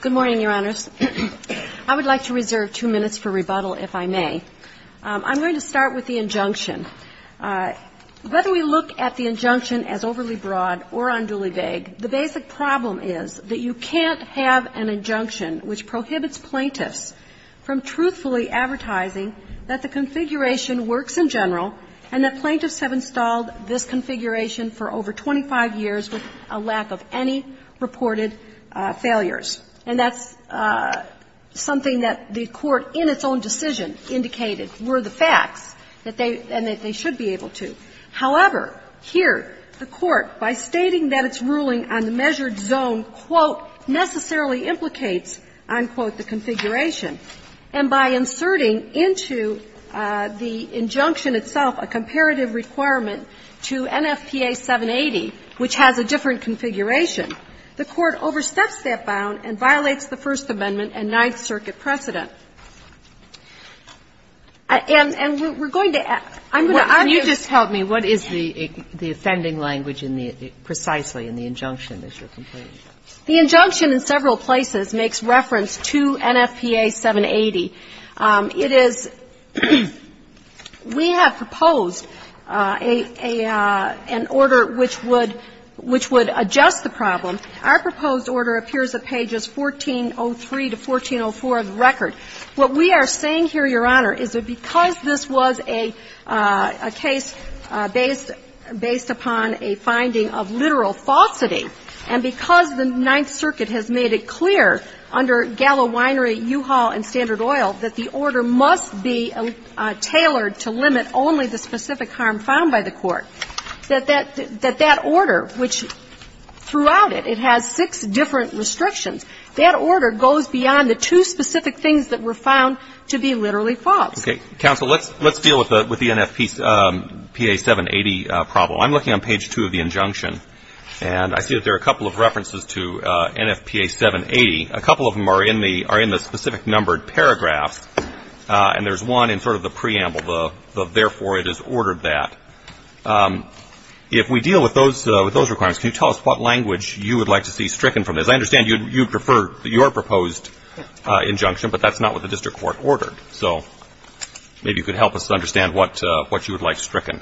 Good morning, Your Honors. I would like to reserve two minutes for rebuttal if I may. I'm going to start with the injunction. Whether we look at the injunction as overly broad or unduly vague, the basic problem is that you can't have an injunction which prohibits plaintiffs from truthfully advertising that the configuration works in general and that plaintiffs have installed this configuration for over 25 years with a lack of any reported failures. And that's something that the Court, in its own decision, indicated were the facts and that they should be able to. However, here, the Court, by stating that its ruling on the measured zone, quote, necessarily implicates, I quote, the configuration, and by inserting into the injunction itself a comparative requirement to NFPA 780, which has a different configuration, the Court oversteps that bound and violates the First Amendment and Ninth Circuit precedent. And we're going to ask, I'm going to ask you to just help me, what is the offending language in the, precisely in the injunction that you're complaining about? The injunction in several places makes reference to NFPA 780. It is we have proposed a, an order which would, which would adjust the problem. Our proposed order appears at pages 1403 to 1404 of the record. What we are saying here, Your Honor, is that because this was a, a case based, based upon a finding of literal falsity, and because the Ninth Circuit has made it clear under Gallo Winery, U-Haul, and Standard Oil that the order must be tailored to limit only the specific harm found by the Court, that that, that that order, which throughout it, it has six different restrictions, that order goes beyond the two specific things that were found to be literally false. Okay. Counsel, let's, let's deal with the, with the NFPA 780 problem. I'm looking on page 2 of the injunction, and I see that there are a couple of references to NFPA 780. A couple of them are in the, are in the specific numbered paragraphs, and there's one in sort of the preamble, the, the therefore it is ordered that. If we deal with those, with those requirements, can you tell us what language you would like to see stricken from this? I understand you'd, you'd prefer your proposed injunction, but that's not what the district court ordered. So maybe you could help us understand what, what you would like stricken.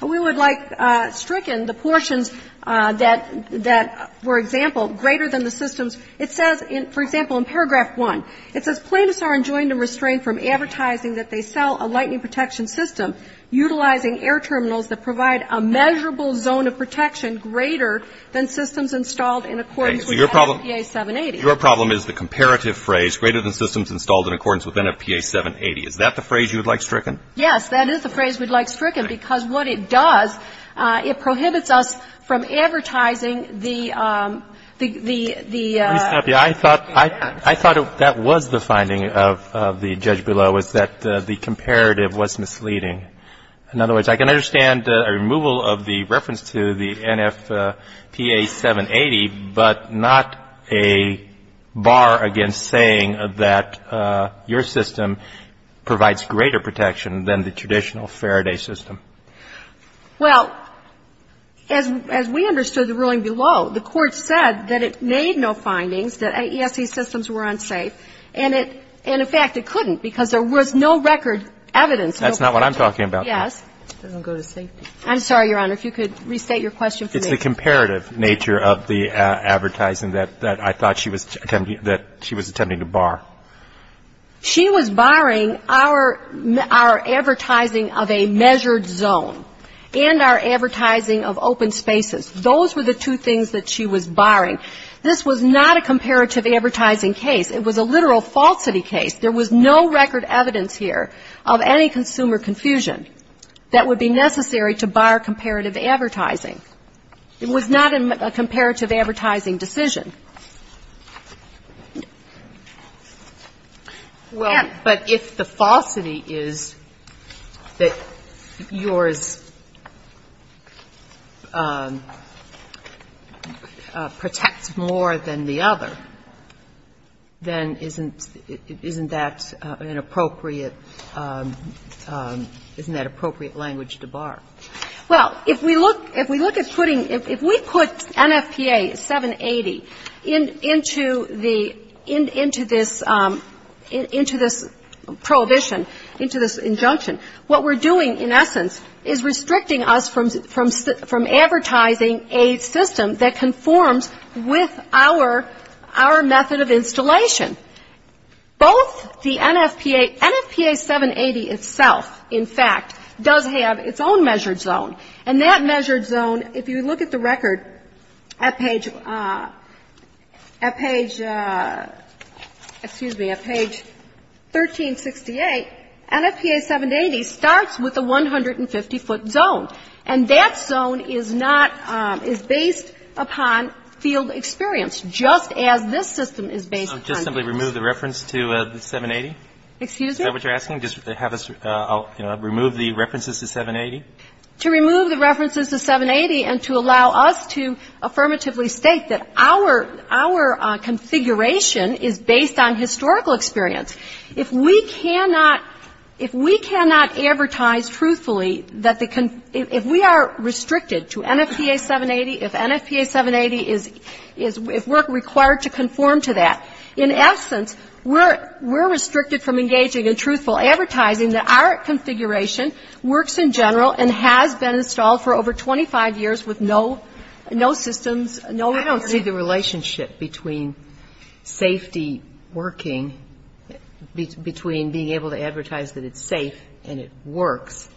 We would like stricken the portions that, that, for example, greater than the systems. It says in, for example, in paragraph 1, it says plaintiffs are enjoined to restrain from advertising that they sell a lightning protection system, utilizing air terminals that provide a measurable zone of protection greater than systems installed in accordance with NFPA 780. Okay. So your problem, your problem is the comparative phrase, greater than systems installed in accordance with NFPA 780. Is that the phrase you would like stricken? Yes. That is the phrase we'd like stricken, because what it does, it prohibits us from advertising the, the, the, the. Let me stop you. I thought, I thought that was the finding of, of the judge below was that the comparative was misleading. In other words, I can understand a removal of the reference to the NFPA 780, but not a bar against saying that your system provides greater protection than the traditional Faraday system. Well, as, as we understood the ruling below, the Court said that it made no findings that AESC systems were unsafe, and it, and in fact it couldn't, because there was no record evidence. That's not what I'm talking about. Yes. It doesn't go to safety. I'm sorry, Your Honor, if you could restate your question for me. It's the comparative nature of the advertising that, that I thought she was attempting to, that she was attempting to bar. She was barring our, our advertising of a measured zone and our advertising of open spaces. Those were the two things that she was barring. This was not a comparative advertising case. It was a literal falsity case. There was no record evidence here of any consumer confusion that would be necessary to bar comparative advertising. It was not a comparative advertising decision. Well, but if the falsity is that yours protects more than the other, then isn't, isn't that an appropriate, isn't that appropriate language to bar? Well, if we look, if we look at putting, if, if we put NFPA 780 as a comparative into the, into this, into this prohibition, into this injunction, what we're doing in essence is restricting us from, from advertising a system that conforms with our, our method of installation. Both the NFPA, NFPA 780 itself, in fact, does have its own measured zone. And that measured zone, if you look at the record at page, at page, excuse me, at page 1368, NFPA 780 starts with a 150-foot zone. And that zone is not, is based upon field experience, just as this system is based upon that. So just simply remove the reference to the 780? Excuse me? Is that what you're asking? Just have us, you know, remove the references to 780? To remove the references to 780 and to allow us to affirmatively state that our, our configuration is based on historical experience. If we cannot, if we cannot advertise truthfully that the, if we are restricted to NFPA 780, if NFPA 780 is, if we're required to conform to that, in essence, we're, we're restricted from engaging in truthful advertising that our configuration works in general and has been installed for over 25 years with no, no systems, no security. I don't see the relationship between safety working, between being able to advertise that it's safe and it works,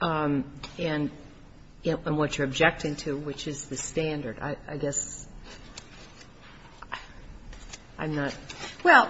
and what you're objecting to, which is the standard. I guess I'm not. Well,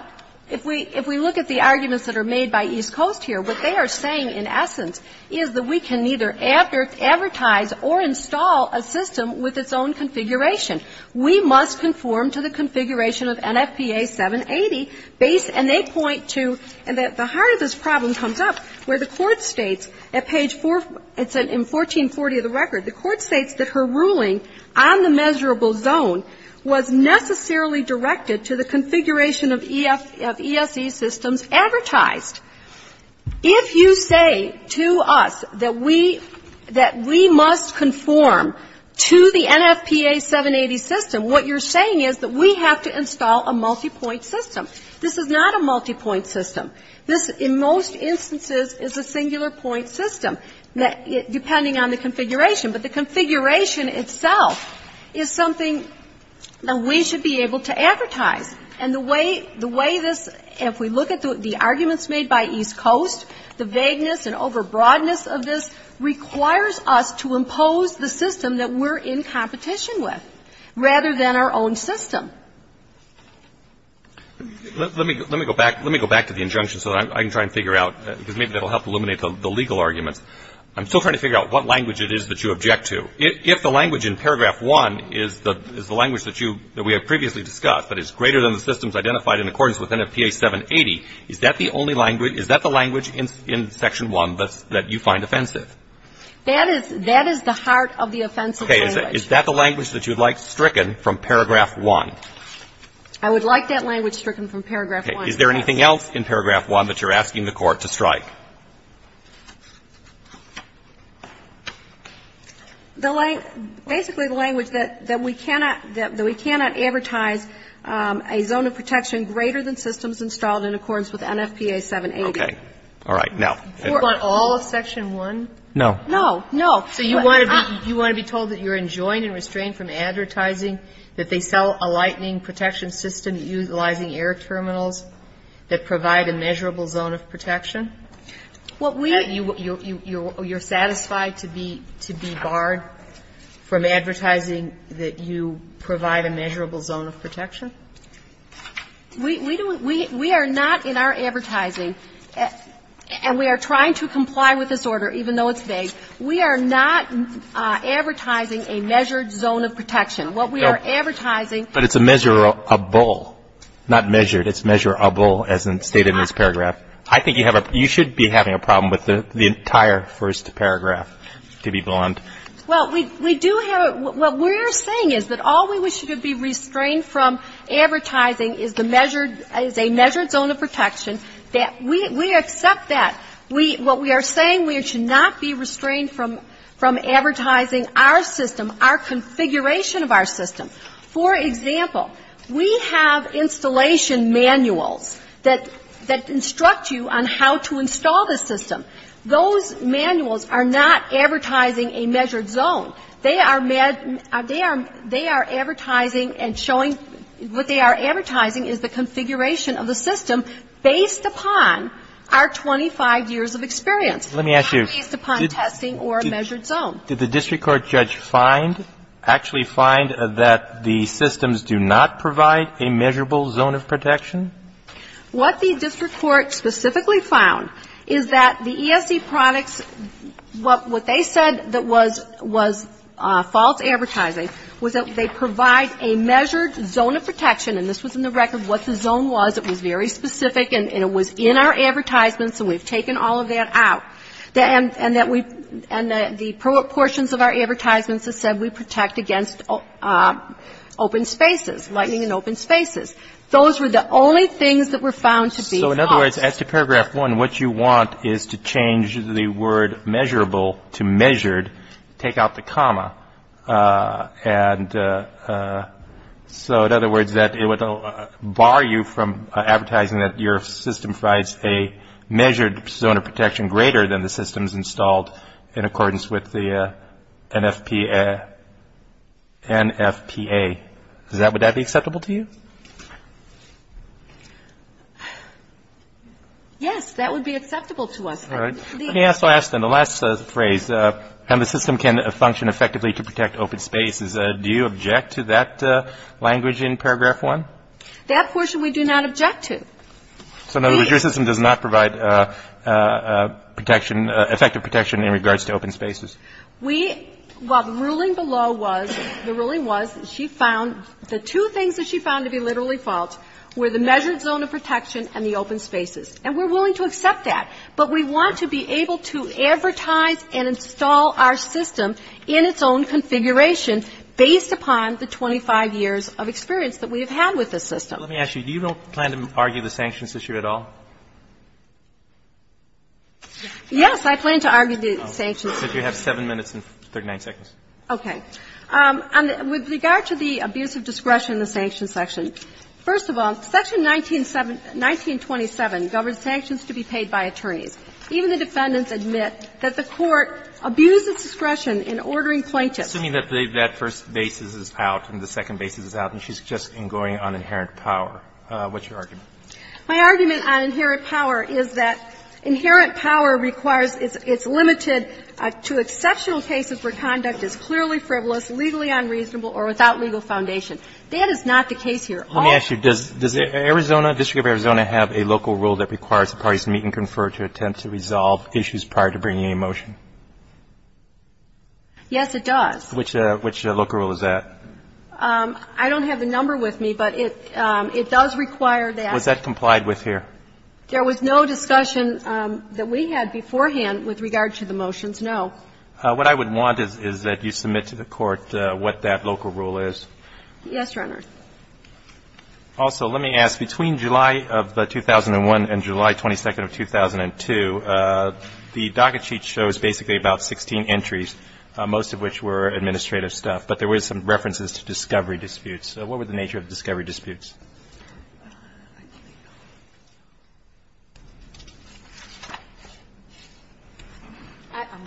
if we, if we look at the arguments that are made by East Coast here, what they are saying, in essence, is that we can neither advertise or install a system with its own configuration. We must conform to the configuration of NFPA 780 based, and they point to, and the heart of this problem comes up where the court states at page 4, it's in 1440 of the record, the court states that her ruling on the measurable zone was necessarily directed to the configuration of ESE systems advertised. If you say to us that we, that we must conform to the NFPA 780 system, what you're saying is that we have to install a multipoint system. This is not a multipoint system. This, in most instances, is a singular point system, depending on the configuration. But the configuration itself is something that we should be able to advertise. And the way, the way this, if we look at the arguments made by East Coast, the vagueness and overbroadness of this requires us to impose the system that we're in competition with, rather than our own system. Let me, let me go back, let me go back to the injunction so that I can try and figure out, because maybe that will help eliminate the legal arguments. I'm still trying to figure out what language it is that you object to. If the language in paragraph 1 is the, is the language that you, that we have previously discussed, but is greater than the systems identified in accordance with NFPA 780, is that the only language, is that the language in section 1 that's, that you find offensive? That is, that is the heart of the offensive language. Okay. Is that the language that you'd like stricken from paragraph 1? I would like that language stricken from paragraph 1. Is there anything else in paragraph 1 that you're asking the court to strike? The language, basically the language that, that we cannot, that we cannot advertise a zone of protection greater than systems installed in accordance with NFPA 780. Okay. All right. Now. For all of section 1? No. No. No. So you want to be, you want to be told that you're enjoined and restrained from advertising, that they sell a lightning protection system utilizing air terminals that provide a measurable zone of protection? What we're You're satisfied to be, to be barred from advertising that you provide a measurable zone of protection? We, we are not in our advertising, and we are trying to comply with this order, even though it's vague. We are not advertising a measured zone of protection. What we are advertising But it's a measurable, not measured. It's measurable as stated in this paragraph. I think you have a, you should be having a problem with the entire first paragraph, to be blunt. Well, we, we do have, what we're saying is that all we wish to be restrained from advertising is the measured, is a measured zone of protection, that we, we accept that. We, what we are saying, we should not be restrained from, from advertising our system, our configuration of our system. For example, we have installation manuals that, that instruct you on how to install the system. Those manuals are not advertising a measured zone. They are, they are, they are advertising and showing, what they are advertising is the configuration of the system based upon our 25 years of experience. Let me ask you. Not based upon testing or measured zone. Did the district court judge find, actually find that the systems do not provide a measurable zone of protection? What the district court specifically found is that the ESC products, what, what they said that was, was false advertising was that they provide a measured zone of protection and this was in the record what the zone was. It was very specific and it was in our advertisements and we've taken all of that and, and that we, and the proportions of our advertisements have said we protect against open spaces, lightning and open spaces. Those were the only things that were found to be false. So in other words, as to paragraph one, what you want is to change the word measurable to measured, take out the comma, and so in other words, that it would bar you from in accordance with the NFPA. Does that, would that be acceptable to you? Yes, that would be acceptable to us. All right. Let me also ask then, the last phrase, how the system can function effectively to protect open spaces. Do you object to that language in paragraph one? That portion we do not object to. So in other words, your system does not provide protection, effective protection in regards to open spaces. We, well, the ruling below was, the ruling was, she found the two things that she found to be literally false were the measured zone of protection and the open spaces. And we're willing to accept that. But we want to be able to advertise and install our system in its own configuration based upon the 25 years of experience that we have had with this system. Let me ask you, do you plan to argue the sanctions issue at all? Yes, I plan to argue the sanctions issue. You have 7 minutes and 39 seconds. Okay. With regard to the abuse of discretion in the sanctions section, first of all, section 1927 governs sanctions to be paid by attorneys. Even the defendants admit that the Court abused its discretion in ordering plaintiffs I'm assuming that that first basis is out and the second basis is out and she's just going on inherent power. What's your argument? My argument on inherent power is that inherent power requires, it's limited to exceptional cases where conduct is clearly frivolous, legally unreasonable or without legal foundation. That is not the case here. Let me ask you, does Arizona, District of Arizona have a local rule that requires the parties to meet and confer to attempt to resolve issues prior to bringing a motion? Yes, it does. Which local rule is that? I don't have the number with me, but it does require that. Was that complied with here? There was no discussion that we had beforehand with regard to the motions, no. What I would want is that you submit to the Court what that local rule is. Yes, Your Honor. Also, let me ask, between July of 2001 and July 22nd of 2002, the docket sheet shows basically about 16 entries, most of which were administrative stuff. But there were some references to discovery disputes. What were the nature of discovery disputes?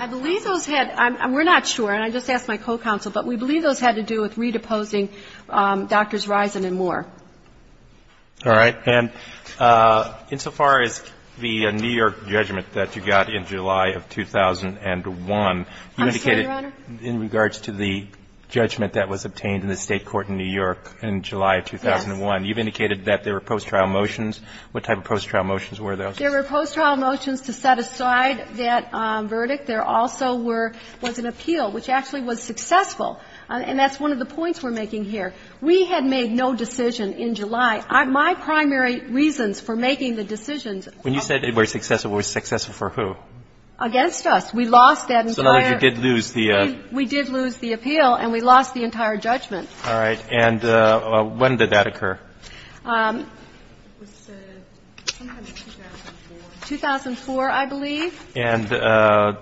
I believe those had, we're not sure, and I just asked my co-counsel, but we believe those had to do with redeposing Drs. Risen and Moore. All right. And insofar as the New York judgment that you got in July of 2001, you indicated in regards to the judgment that was obtained in the State court in New York in July of 2001, you've indicated that there were post-trial motions. What type of post-trial motions were those? There were post-trial motions to set aside that verdict. There also were, was an appeal, which actually was successful. And that's one of the points we're making here. We had made no decision in July. My primary reasons for making the decisions. When you said it was successful, it was successful for who? Against us. We lost that entire. So in other words, you did lose the. We did lose the appeal and we lost the entire judgment. And when did that occur? It was sometime in 2004. 2004, I believe. And all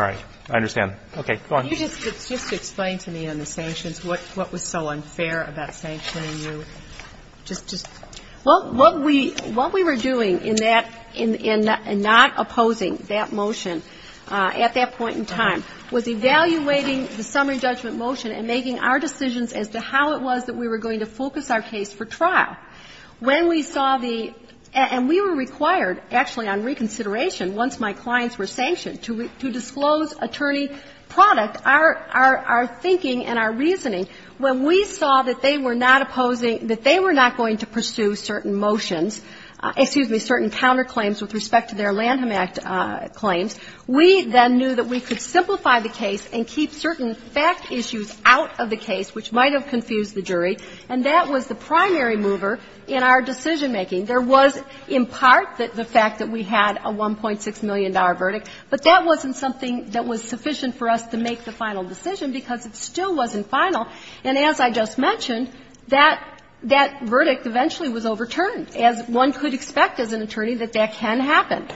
right. I understand. Okay. Go on. Can you just explain to me on the sanctions, what was so unfair about sanctioning you? Just, just. Well, what we were doing in that, in not opposing that motion at that point in time was evaluating the summary judgment motion and making our decisions as to how it was that we were going to focus our case for trial. When we saw the, and we were required actually on reconsideration, once my clients were sanctioned, to disclose attorney product, our, our, our thinking and our reasoning. When we saw that they were not opposing, that they were not going to pursue certain motions, excuse me, certain counterclaims with respect to their Lanham Act claims, we then knew that we could simplify the case and keep certain fact issues out of the case, which might have confused the jury. And that was the primary mover in our decision making. There was in part the fact that we had a $1.6 million verdict, but that wasn't something that was sufficient for us to make the final decision because it still wasn't final. And as I just mentioned, that, that verdict eventually was overturned, as one could expect as an attorney, that that can happen.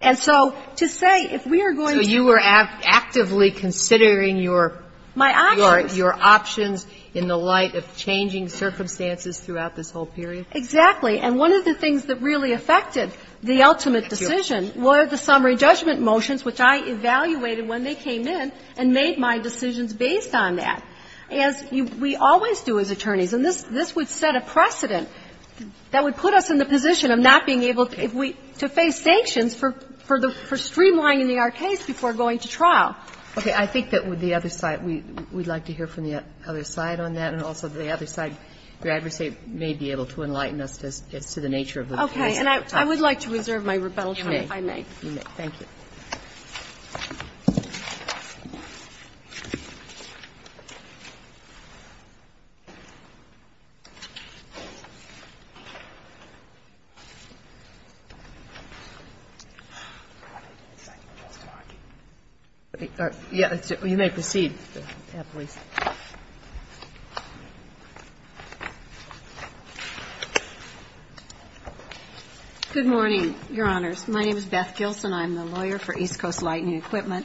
And so to say if we are going to. So you were actively considering your. My options. Your options in the light of changing circumstances throughout this whole period? Exactly. And one of the things that really affected the ultimate decision were the summary judgment motions, which I evaluated when they came in and made my decisions based on that. As we always do as attorneys, and this, this would set a precedent that would put us in the position of not being able to, if we, to face sanctions for, for the, for streamlining our case before going to trial. Okay. I think that with the other side, we, we'd like to hear from the other side on that. And also the other side, your adversary may be able to enlighten us as to the nature of the case. Okay. And I, I would like to reserve my rebuttal time if I may. You may. Thank you. Good morning, Your Honors. My name is Beth Gilson. I'm the lawyer for East Coast Lightning Equipment.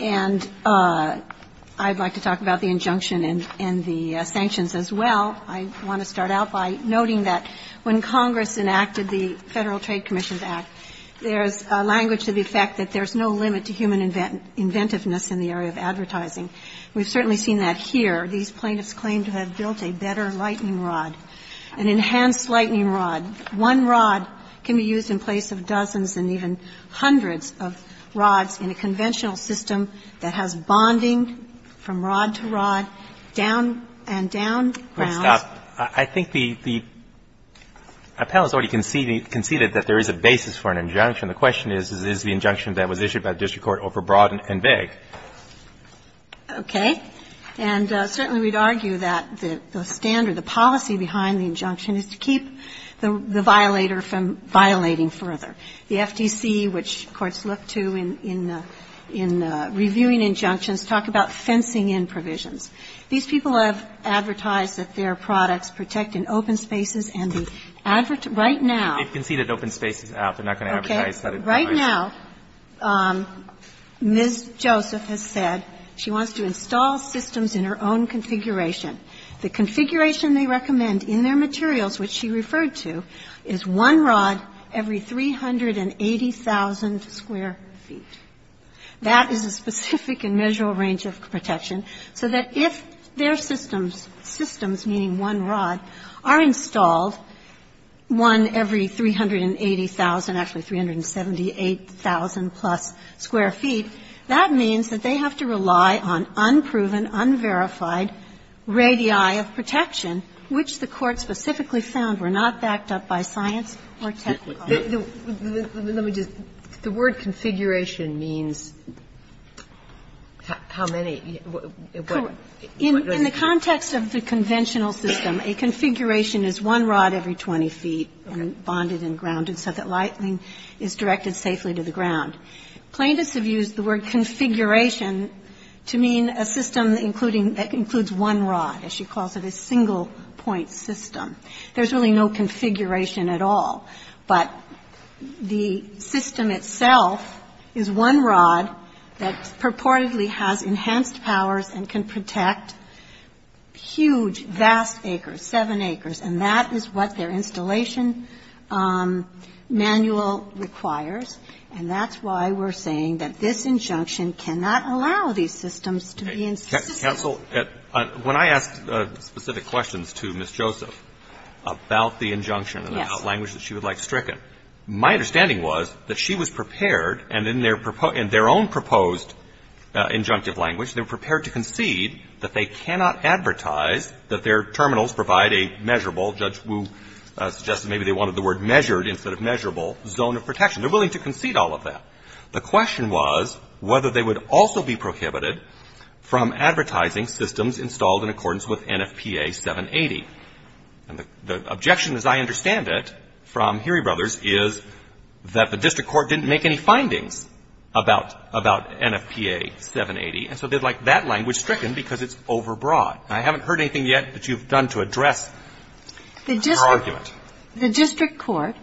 And I'd like to talk about the injunction and, and the sanctions as well. I want to start out by noting that when Congress enacted the Federal Trade Commission's Act, there's a language to the effect that there's no limit to human inventiveness in the area of advertising. We've certainly seen that here. These plaintiffs claim to have built a better lightning rod, an enhanced lightning One rod can be used in place of dozens and even hundreds of rods in a conventional system that has bonding from rod to rod, down and down grounds. I think the, the panel has already conceded that there is a basis for an injunction. The question is, is the injunction that was issued by the district court overbroad and vague? Okay. And certainly we'd argue that the standard, the policy behind the injunction is to keep the, the violator from violating further. The FTC, which courts look to in, in reviewing injunctions, talk about fencing in provisions. These people have advertised that their products protect in open spaces and the advert Right now. They've conceded open spaces. They're not going to advertise that. Okay. Right now, Ms. Joseph has said she wants to install systems in her own configuration. The configuration they recommend in their materials, which she referred to, is one rod every 380,000 square feet. That is a specific and measurable range of protection so that if their systems, systems, meaning one rod, are installed, one every 380,000, actually 378,000 plus square feet, that means that they have to rely on unproven, unverified radii of protection, which the Court specifically found were not backed up by science or technical. Let me just. The word configuration means how many? In the context of the conventional system, a configuration is one rod every 20 feet bonded and grounded so that lightning is directed safely to the ground. Plaintiffs have used the word configuration to mean a system including, that includes one rod, as she calls it, a single point system. There's really no configuration at all. But the system itself is one rod that purportedly has enhanced powers and can protect huge, vast acres, seven acres, and that is what their installation manual requires, and that's why we're saying that this injunction cannot allow these systems to be insisted. Cancel. When I asked specific questions to Ms. Joseph about the injunction and the language that she would like stricken, my understanding was that she was prepared and in their own proposed injunctive language, they were prepared to concede that they cannot advertise that their terminals provide a measurable, Judge Wu suggested maybe they were willing to concede all of that. The question was whether they would also be prohibited from advertising systems installed in accordance with NFPA 780. And the objection, as I understand it, from Heery Brothers is that the district court didn't make any findings about NFPA 780, and so they'd like that language stricken because it's overbroad. And I haven't heard anything yet that you've done to address her argument. The district court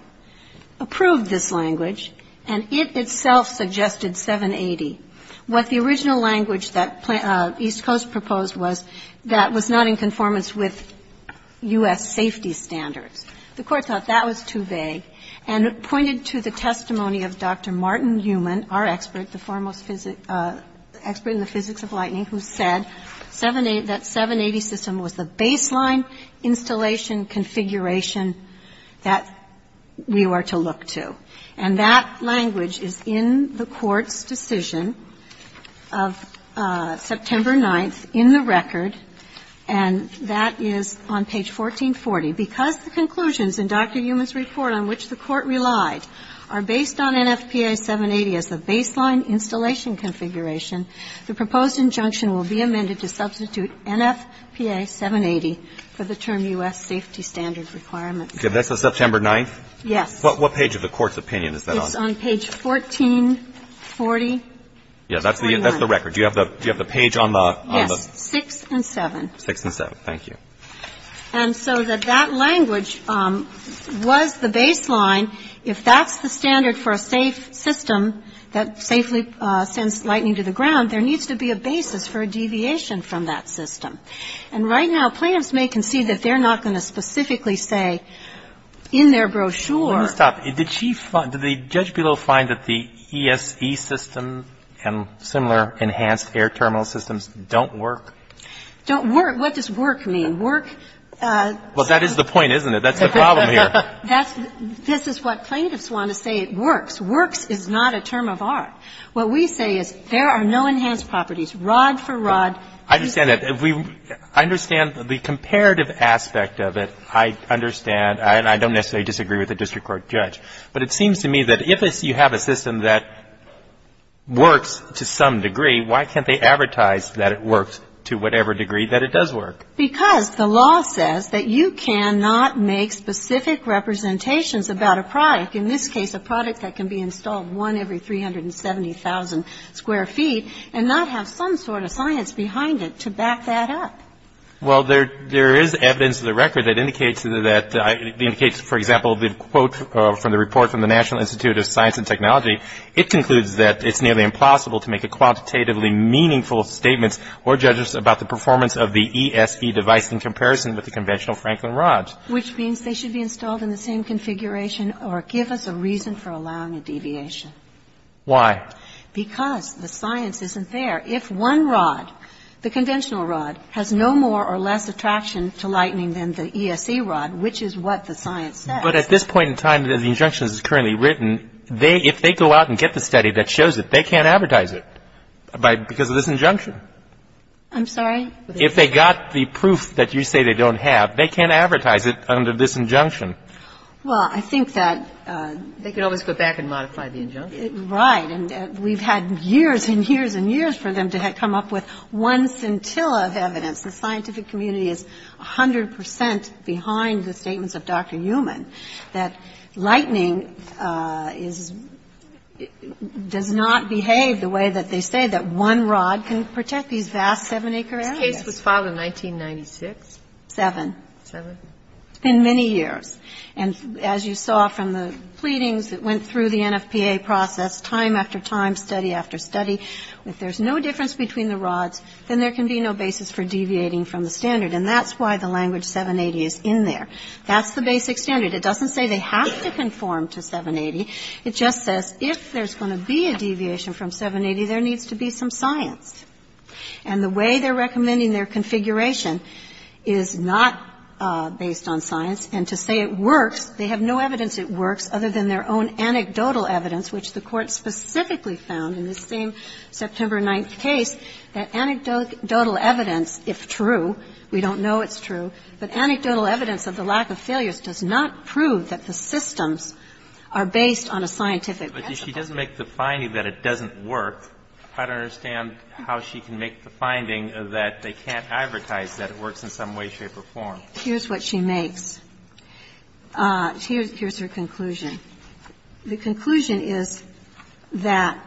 approved this language, and it itself suggested 780. What the original language that East Coast proposed was that was not in conformance with U.S. safety standards. The court thought that was too vague and pointed to the testimony of Dr. Martin Newman, our expert, the foremost expert in the physics of lightning, who said that was the baseline installation configuration that we were to look to. And that language is in the court's decision of September 9th in the record, and that is on page 1440. Because the conclusions in Dr. Newman's report on which the court relied are based on NFPA 780 as the baseline installation configuration, the proposed injunction will be amended to substitute NFPA 780 for the term U.S. safety standard requirement. So that's on September 9th? Yes. What page of the court's opinion is that on? It's on page 1440. Yeah. That's the record. Do you have the page on the? Yes. 6 and 7. 6 and 7. Thank you. And so that that language was the baseline. If that's the standard for a safe system that safely sends lightning to the ground, there needs to be a basis for a deviation from that system. And right now plaintiffs may concede that they're not going to specifically say in their brochure. Let me stop. Did she find, did the judge below find that the ESE system and similar enhanced air terminal systems don't work? Don't work? What does work mean? Work. Well, that is the point, isn't it? That's the problem here. This is what plaintiffs want to say. It works. Works is not a term of art. What we say is there are no enhanced properties. Rod for rod. I understand that. I understand the comparative aspect of it. I understand. And I don't necessarily disagree with the district court judge. But it seems to me that if you have a system that works to some degree, why can't they advertise that it works to whatever degree that it does work? Because the law says that you cannot make specific representations about a product. In this case, a product that can be installed one every 370,000 square feet and not have some sort of science behind it to back that up. Well, there is evidence in the record that indicates that, for example, the quote from the report from the National Institute of Science and Technology, it concludes that it's nearly impossible to make a quantitatively meaningful statement or judge us about the performance of the ESE device in comparison with the conventional Franklin rods. Which means they should be installed in the same configuration or give us a reason for allowing a deviation. Why? Because the science isn't there. If one rod, the conventional rod, has no more or less attraction to lightning than the ESE rod, which is what the science says. But at this point in time, the injunction is currently written, if they go out and get the study that shows it, they can't advertise it because of this injunction. I'm sorry? If they got the proof that you say they don't have, they can't advertise it under this injunction. Well, I think that they can always go back and modify the injunction. Right. And we've had years and years and years for them to come up with one scintilla of evidence. The scientific community is 100 percent behind the statements of Dr. Newman that lightning is – does not behave the way that they say that one rod can protect these vast 7-acre areas. And that case was filed in 1996? Seven. Seven? In many years. And as you saw from the pleadings that went through the NFPA process, time after time, study after study, if there's no difference between the rods, then there can be no basis for deviating from the standard. And that's why the language 780 is in there. That's the basic standard. It doesn't say they have to conform to 780. It just says if there's going to be a deviation from 780, there needs to be some science. And the way they're recommending their configuration is not based on science. And to say it works, they have no evidence it works other than their own anecdotal evidence, which the Court specifically found in this same September 9th case, that anecdotal evidence, if true, we don't know it's true, but anecdotal evidence of the lack of failures does not prove that the systems are based on a scientific result. But if she doesn't make the finding that it doesn't work, I don't understand how she can make the finding that they can't advertise that it works in some way, shape, or form. Here's what she makes. Here's her conclusion. The conclusion is that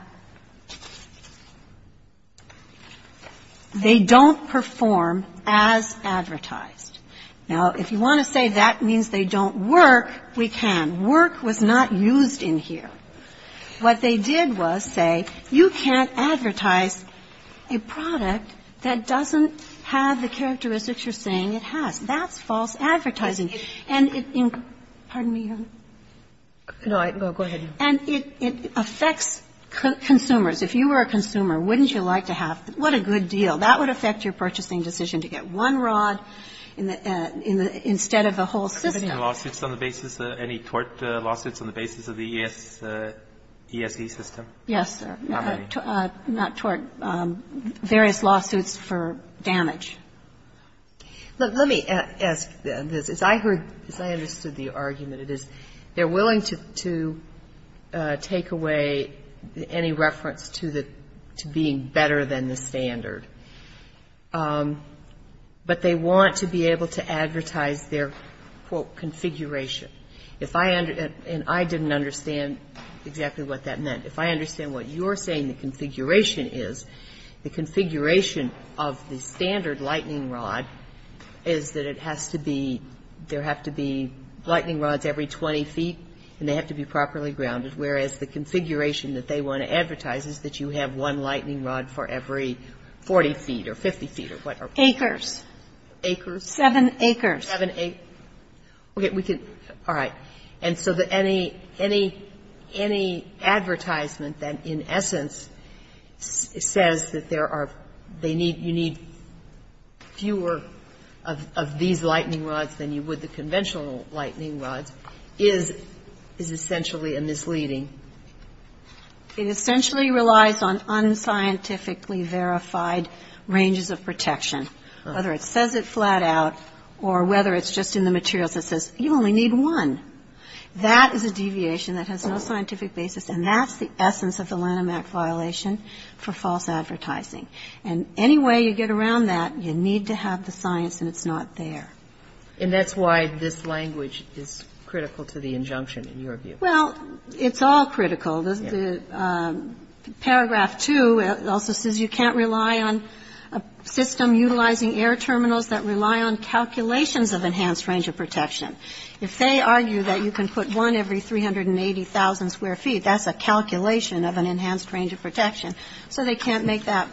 they don't perform as advertised. Now, if you want to say that means they don't work, we can. But if you want to say that means they don't work, we can't say that means they don't work, we can't say that means they don't work. Because work was not used in here. What they did was say you can't advertise a product that doesn't have the characteristics you're saying it has. That's false advertising. And it incre – pardon me, Your Honor. Kagan. No, go ahead. And it affects consumers. If you were a consumer, wouldn't you like to have – what a good deal. That would affect your purchasing decision to get one rod instead of the whole system. Any lawsuits on the basis – any tort lawsuits on the basis of the ESE system? Yes, sir. How many? Not tort. Various lawsuits for damage. Let me ask this. As I heard – as I understood the argument, it is they're willing to take away any reference to the – to being better than the standard, but they want to be able to advertise their, quote, configuration. If I – and I didn't understand exactly what that meant. If I understand what you're saying the configuration is, the configuration of the standard lightning rod is that it has to be – there have to be lightning rods every 20 feet and they have to be properly grounded, whereas the configuration that they want to advertise is that you have one lightning rod for every 40 feet or 50 feet or whatever. Acres. Acres? Seven acres. Seven acres. Okay. We can – all right. And so the – any – any advertisement that in essence says that there are – they need – you need fewer of these lightning rods than you would the conventional lightning rods is – is essentially a misleading. It essentially relies on unscientifically verified ranges of protection. All right. Whether it says it flat out or whether it's just in the materials that says you only need one. That is a deviation that has no scientific basis and that's the essence of the Lanham Act violation for false advertising. And any way you get around that, you need to have the science and it's not there. And that's why this language is critical to the injunction in your view. Well, it's all critical. The paragraph 2 also says you can't rely on a system utilizing air terminals that rely on calculations of enhanced range of protection. If they argue that you can put one every 380,000 square feet, that's a calculation of an enhanced range of protection. So they can't make that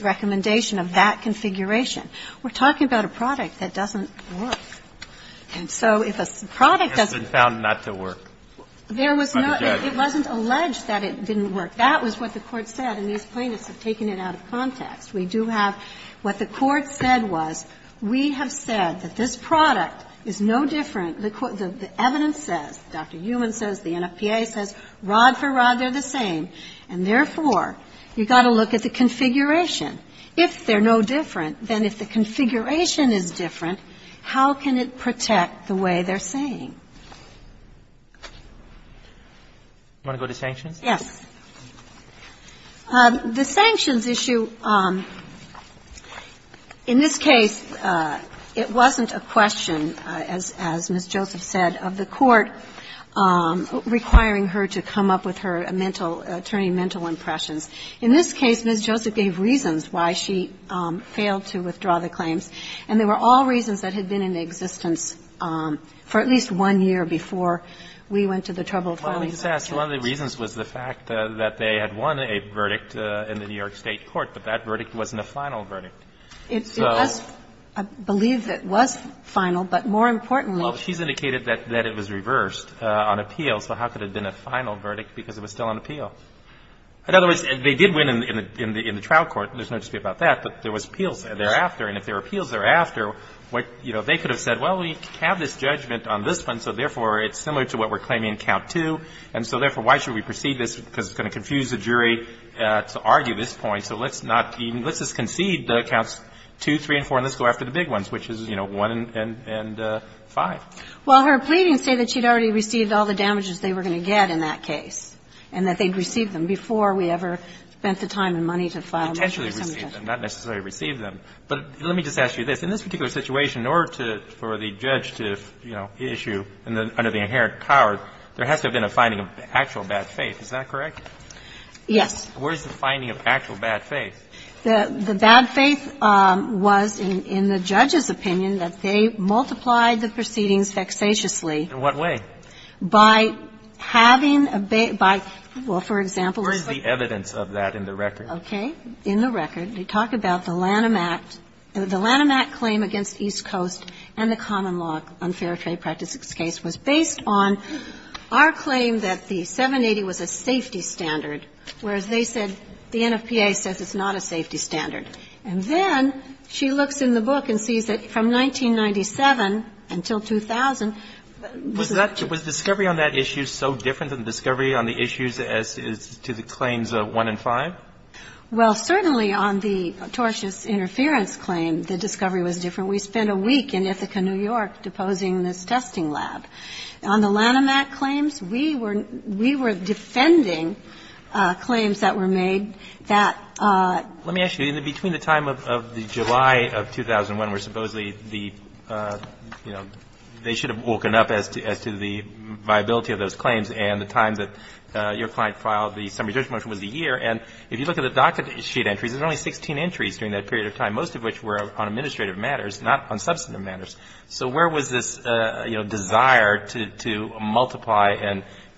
recommendation of that configuration. We're talking about a product that doesn't work. And so if a product doesn't work. It's been found not to work. There was no – it wasn't alleged that it didn't work. That was what the Court said and these plaintiffs have taken it out of context. We do have – what the Court said was we have said that this product is no different – the evidence says, Dr. Heumann says, the NFPA says, rod for rod, they're the same. And therefore, you've got to look at the configuration. If they're no different, then if the configuration is different, how can it protect the way they're saying? Do you want to go to sanctions? Yes. The sanctions issue, in this case, it wasn't a question, as Ms. Joseph said, of the Court requiring her to come up with her mental – attorney mental impressions. In this case, Ms. Joseph gave reasons why she failed to withdraw the claims. And they were all reasons that had been in existence for at least one year before we went to the trouble of filing the case. Well, let me just ask. One of the reasons was the fact that they had won a verdict in the New York State court, but that verdict wasn't a final verdict. It was. I believe it was final, but more importantly – Well, she's indicated that it was reversed on appeal, so how could it have been a final verdict because it was still on appeal? In other words, they did win in the trial court. There's no dispute about that. But there was appeals thereafter. And if there were appeals thereafter, what, you know, they could have said, well, we have this judgment on this one, so therefore it's similar to what we're claiming in Count 2, and so therefore why should we proceed this because it's going to confuse the jury to argue this point, so let's not even – let's just concede the Counts 2, 3, and 4, and let's go after the big ones, which is, you know, 1 and 5. Well, her pleadings say that she'd already received all the damages they were going to get in that case, and that they'd received them before we ever spent the time and money to file them. Potentially received them, not necessarily received them. But let me just ask you this. In this particular situation, in order to – for the judge to, you know, issue under the inherent power, there has to have been a finding of actual bad faith. Is that correct? Yes. Where is the finding of actual bad faith? The bad faith was in the judge's opinion that they multiplied the proceedings vexatiously. In what way? By having a – by – well, for example, it's like – Where is the evidence of that in the record? Okay. In the record, they talk about the Lanham Act. The Lanham Act claim against East Coast and the common law unfair trade practice case was based on our claim that the 780 was a safety standard, whereas they said the NFPA says it's not a safety standard. And then she looks in the book and sees that from 1997 until 2000 – Was that – was discovery on that issue so different than discovery on the issues as to the claims of 1 and 5? Well, certainly on the tortious interference claim, the discovery was different. We spent a week in Ithaca, New York, deposing this testing lab. On the Lanham Act claims, we were defending claims that were made that – Let me ask you. In between the time of the July of 2001, where supposedly the – you know, they should have woken up as to the viability of those claims and the time that your client filed the summary judgment was a year. And if you look at the docket sheet entries, there's only 16 entries during that period of time, most of which were on administrative matters, not on substantive matters. So where was this, you know, desire to multiply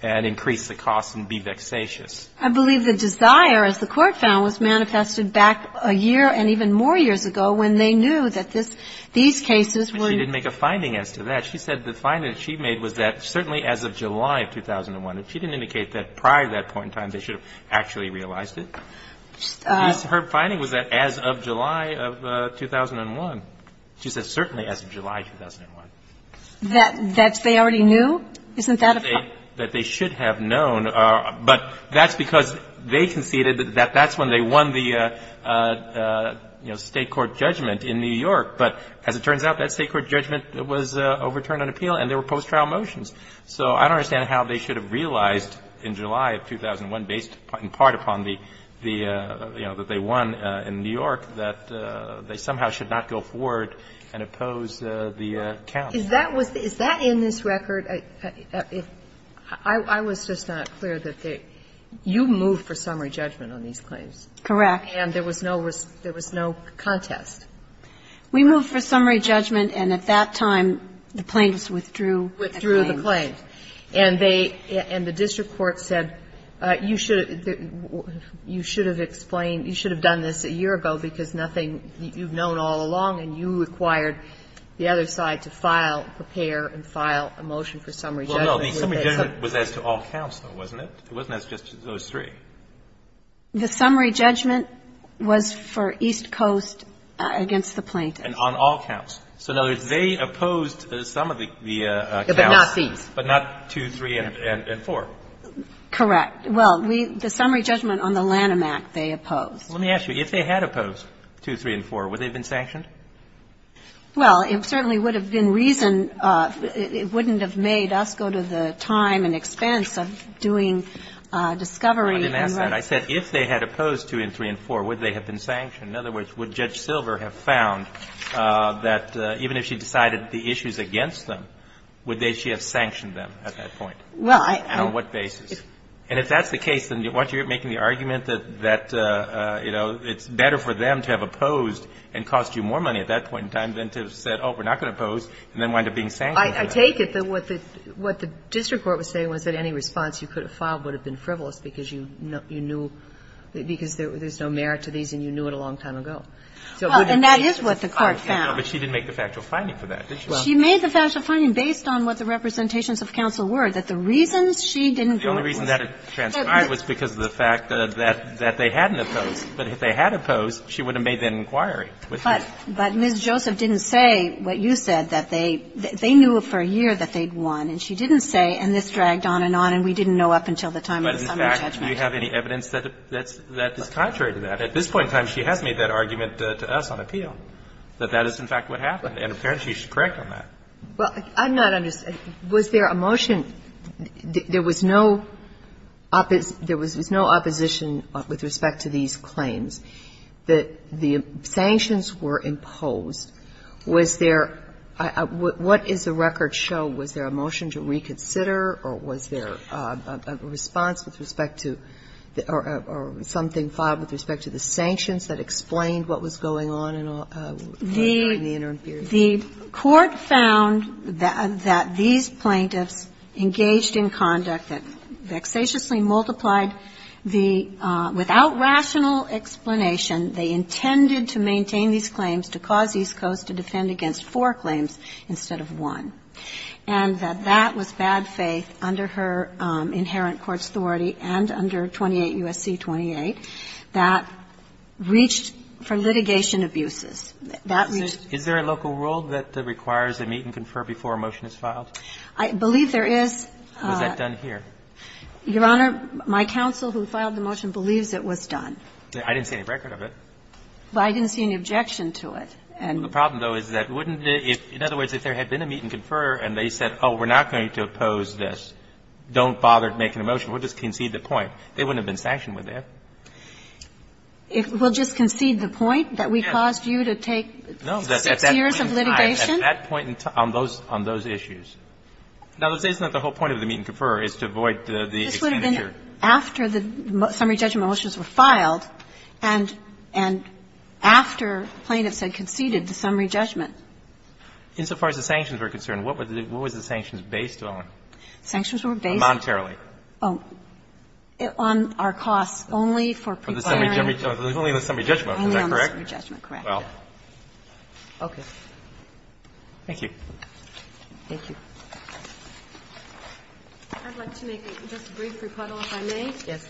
and increase the cost and be vexatious? I believe the desire, as the Court found, was manifested back a year and even more years ago when they knew that this – these cases were – They didn't make a finding as to that. She said the finding she made was that certainly as of July of 2001. She didn't indicate that prior to that point in time, they should have actually realized it. Her finding was that as of July of 2001. She said certainly as of July of 2001. That they already knew? Isn't that a fact? That they should have known. But that's because they conceded that that's when they won the, you know, state court judgment in New York. But as it turns out, that state court judgment was overturned on appeal and there were post-trial motions. So I don't understand how they should have realized in July of 2001, based in part upon the, you know, that they won in New York, that they somehow should not go forward and oppose the count. Is that in this record? I was just not clear that they you moved for summary judgment on these claims. Correct. And there was no contest. We moved for summary judgment and at that time the plaintiffs withdrew the claim. Withdrew the claim. And they, and the district court said, you should have explained, you should have done this a year ago because nothing, you've known all along and you required the other side to file, prepare and file a motion for summary judgment. Well, no. The summary judgment was as to all counts, though, wasn't it? It wasn't as just to those three. The summary judgment was for East Coast against the plaintiffs. And on all counts. So in other words, they opposed some of the counts. But not these. But not 2, 3 and 4. Correct. Well, we, the summary judgment on the Lanham Act, they opposed. Let me ask you, if they had opposed 2, 3 and 4, would they have been sanctioned? Well, it certainly would have been reason, it wouldn't have made us go to the time and expense of doing discovery. Let me ask that. I said, if they had opposed 2 and 3 and 4, would they have been sanctioned? In other words, would Judge Silver have found that even if she decided the issues against them, would she have sanctioned them at that point? Well, I. And on what basis? And if that's the case, then why aren't you making the argument that, you know, it's better for them to have opposed and cost you more money at that point in time than to have said, oh, we're not going to oppose and then wind up being sanctioned? I take it that what the district court was saying was that any response you could have filed would have been frivolous because you knew, because there's no merit to these and you knew it a long time ago. And that is what the court found. But she didn't make the factual finding for that, did she? She made the factual finding based on what the representations of counsel were, that the reasons she didn't go. The only reason that it transpired was because of the fact that they hadn't opposed. But if they had opposed, she would have made that inquiry. But Ms. Joseph didn't say what you said, that they knew for a year that they'd won. And she didn't say, and this dragged on and on, and we didn't know up until the time of the summary judgment. But in fact, do you have any evidence that is contrary to that? At this point in time, she has made that argument to us on appeal, that that is, in fact, what happened. And apparently, she's correct on that. Well, I'm not understanding. Was there a motion? There was no opposition with respect to these claims. The sanctions were imposed. Was there – what does the record show? Was there a motion to reconsider, or was there a response with respect to – or something filed with respect to the sanctions that explained what was going on in the interim period? The Court found that these plaintiffs engaged in conduct that vexatiously multiplied the – without rational explanation, they intended to maintain these claims to cause East Coast to defend against four claims instead of one. And that that was bad faith under her inherent court's authority and under 28 U.S.C. 28 that reached for litigation abuses. That reached – Is there a local rule that requires a meet and confer before a motion is filed? I believe there is. Was that done here? Your Honor, my counsel who filed the motion believes it was done. I didn't see any record of it. But I didn't see any objection to it. The problem, though, is that wouldn't it – in other words, if there had been a meet and confer and they said, oh, we're not going to oppose this, don't bother making a motion, we'll just concede the point, they wouldn't have been sanctioned with that. We'll just concede the point that we caused you to take six years of litigation? No, at that point in time, on those issues. Now, let's say it's not the whole point of the meet and confer. It's to avoid the expenditure. This would have been after the summary judgment motions were filed and after plaintiffs had conceded the summary judgment. Insofar as the sanctions were concerned, what were the sanctions based on? Sanctions were based on? Monetarily. Oh. On our costs only for preparing. Only on the summary judgment, is that correct? Only on the summary judgment, correct. Well. Okay. Thank you. Thank you. I'd like to make just a brief rebuttal, if I may. Yes.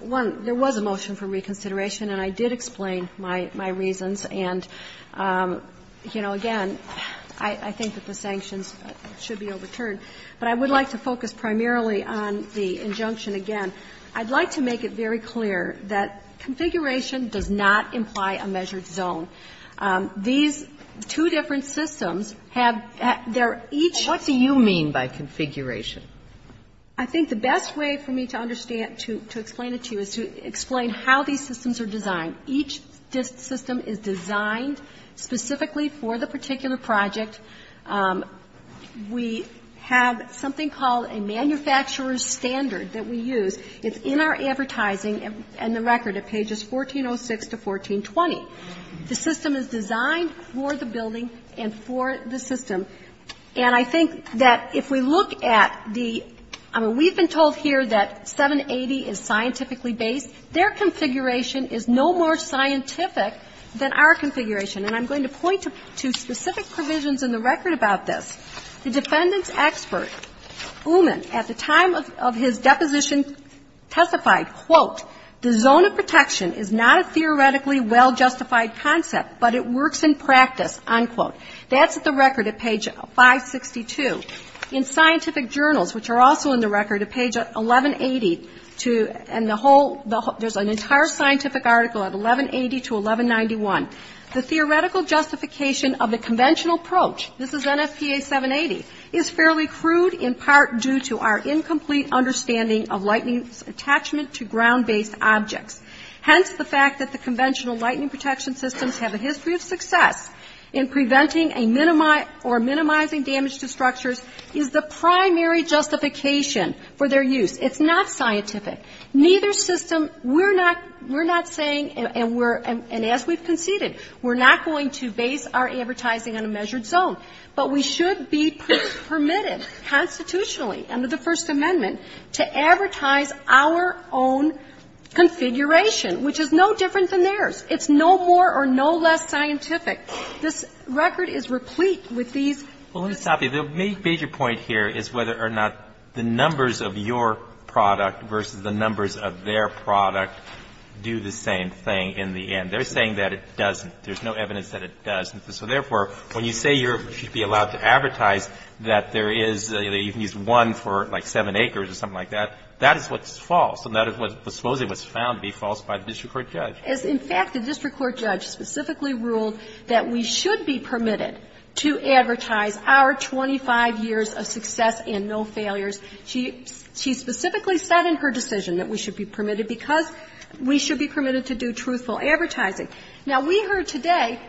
One, there was a motion for reconsideration and I did explain my reasons. And, you know, again, I think that the sanctions should be overturned. But I would like to focus primarily on the injunction again. I'd like to make it very clear that configuration does not imply a measured zone. These two different systems have their each. What do you mean by configuration? I think the best way for me to understand, to explain it to you, is to explain how these systems are designed. Each system is designed specifically for the particular project. We have something called a manufacturer's standard that we use. It's in our advertising and the record at pages 1406 to 1420. The system is designed for the building and for the system. And I think that if we look at the – I mean, we've been told here that 780 is scientifically based. Their configuration is no more scientific than our configuration. And I'm going to point to specific provisions in the record about this. The defendant's expert, Uman, at the time of his deposition testified, quote, the zone of protection is not a theoretically well-justified concept, but it works in practice, unquote. That's at the record at page 562. In scientific journals, which are also in the record at page 1180 to – and the whole – there's an entire scientific article at 1180 to 1191. The theoretical justification of the conventional approach, this is NFPA 780, is fairly Hence, the fact that the conventional lightning protection systems have a history of success in preventing or minimizing damage to structures is the primary justification for their use. It's not scientific. Neither system – we're not saying, and as we've conceded, we're not going to base our advertising on a measured zone. But we should be permitted constitutionally under the First Amendment to advertise our own configuration, which is no different than theirs. It's no more or no less scientific. This record is replete with these. Well, let me stop you. The major point here is whether or not the numbers of your product versus the numbers of their product do the same thing in the end. They're saying that it doesn't. There's no evidence that it doesn't. So, therefore, when you say you should be allowed to advertise that there is – that you can use one for, like, seven acres or something like that, that is what's false. And that is supposedly what's found to be false by the district court judge. As, in fact, the district court judge specifically ruled that we should be permitted to advertise our 25 years of success and no failures. She specifically said in her decision that we should be permitted because we should be permitted to do truthful advertising. Now, we heard today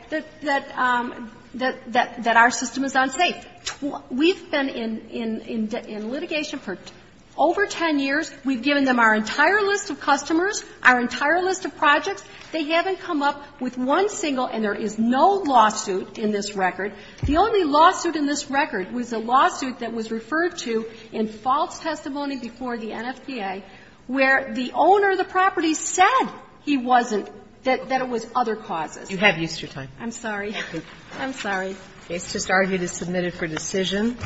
that our system is unsafe. We've been in litigation for over 10 years. We've given them our entire list of customers, our entire list of projects. They haven't come up with one single, and there is no lawsuit in this record. The only lawsuit in this record was a lawsuit that was referred to in false testimony before the NFPA where the owner of the property said he wasn't, that it was other causes. You have Easter time. I'm sorry. I'm sorry. It's just argued as submitted for decision.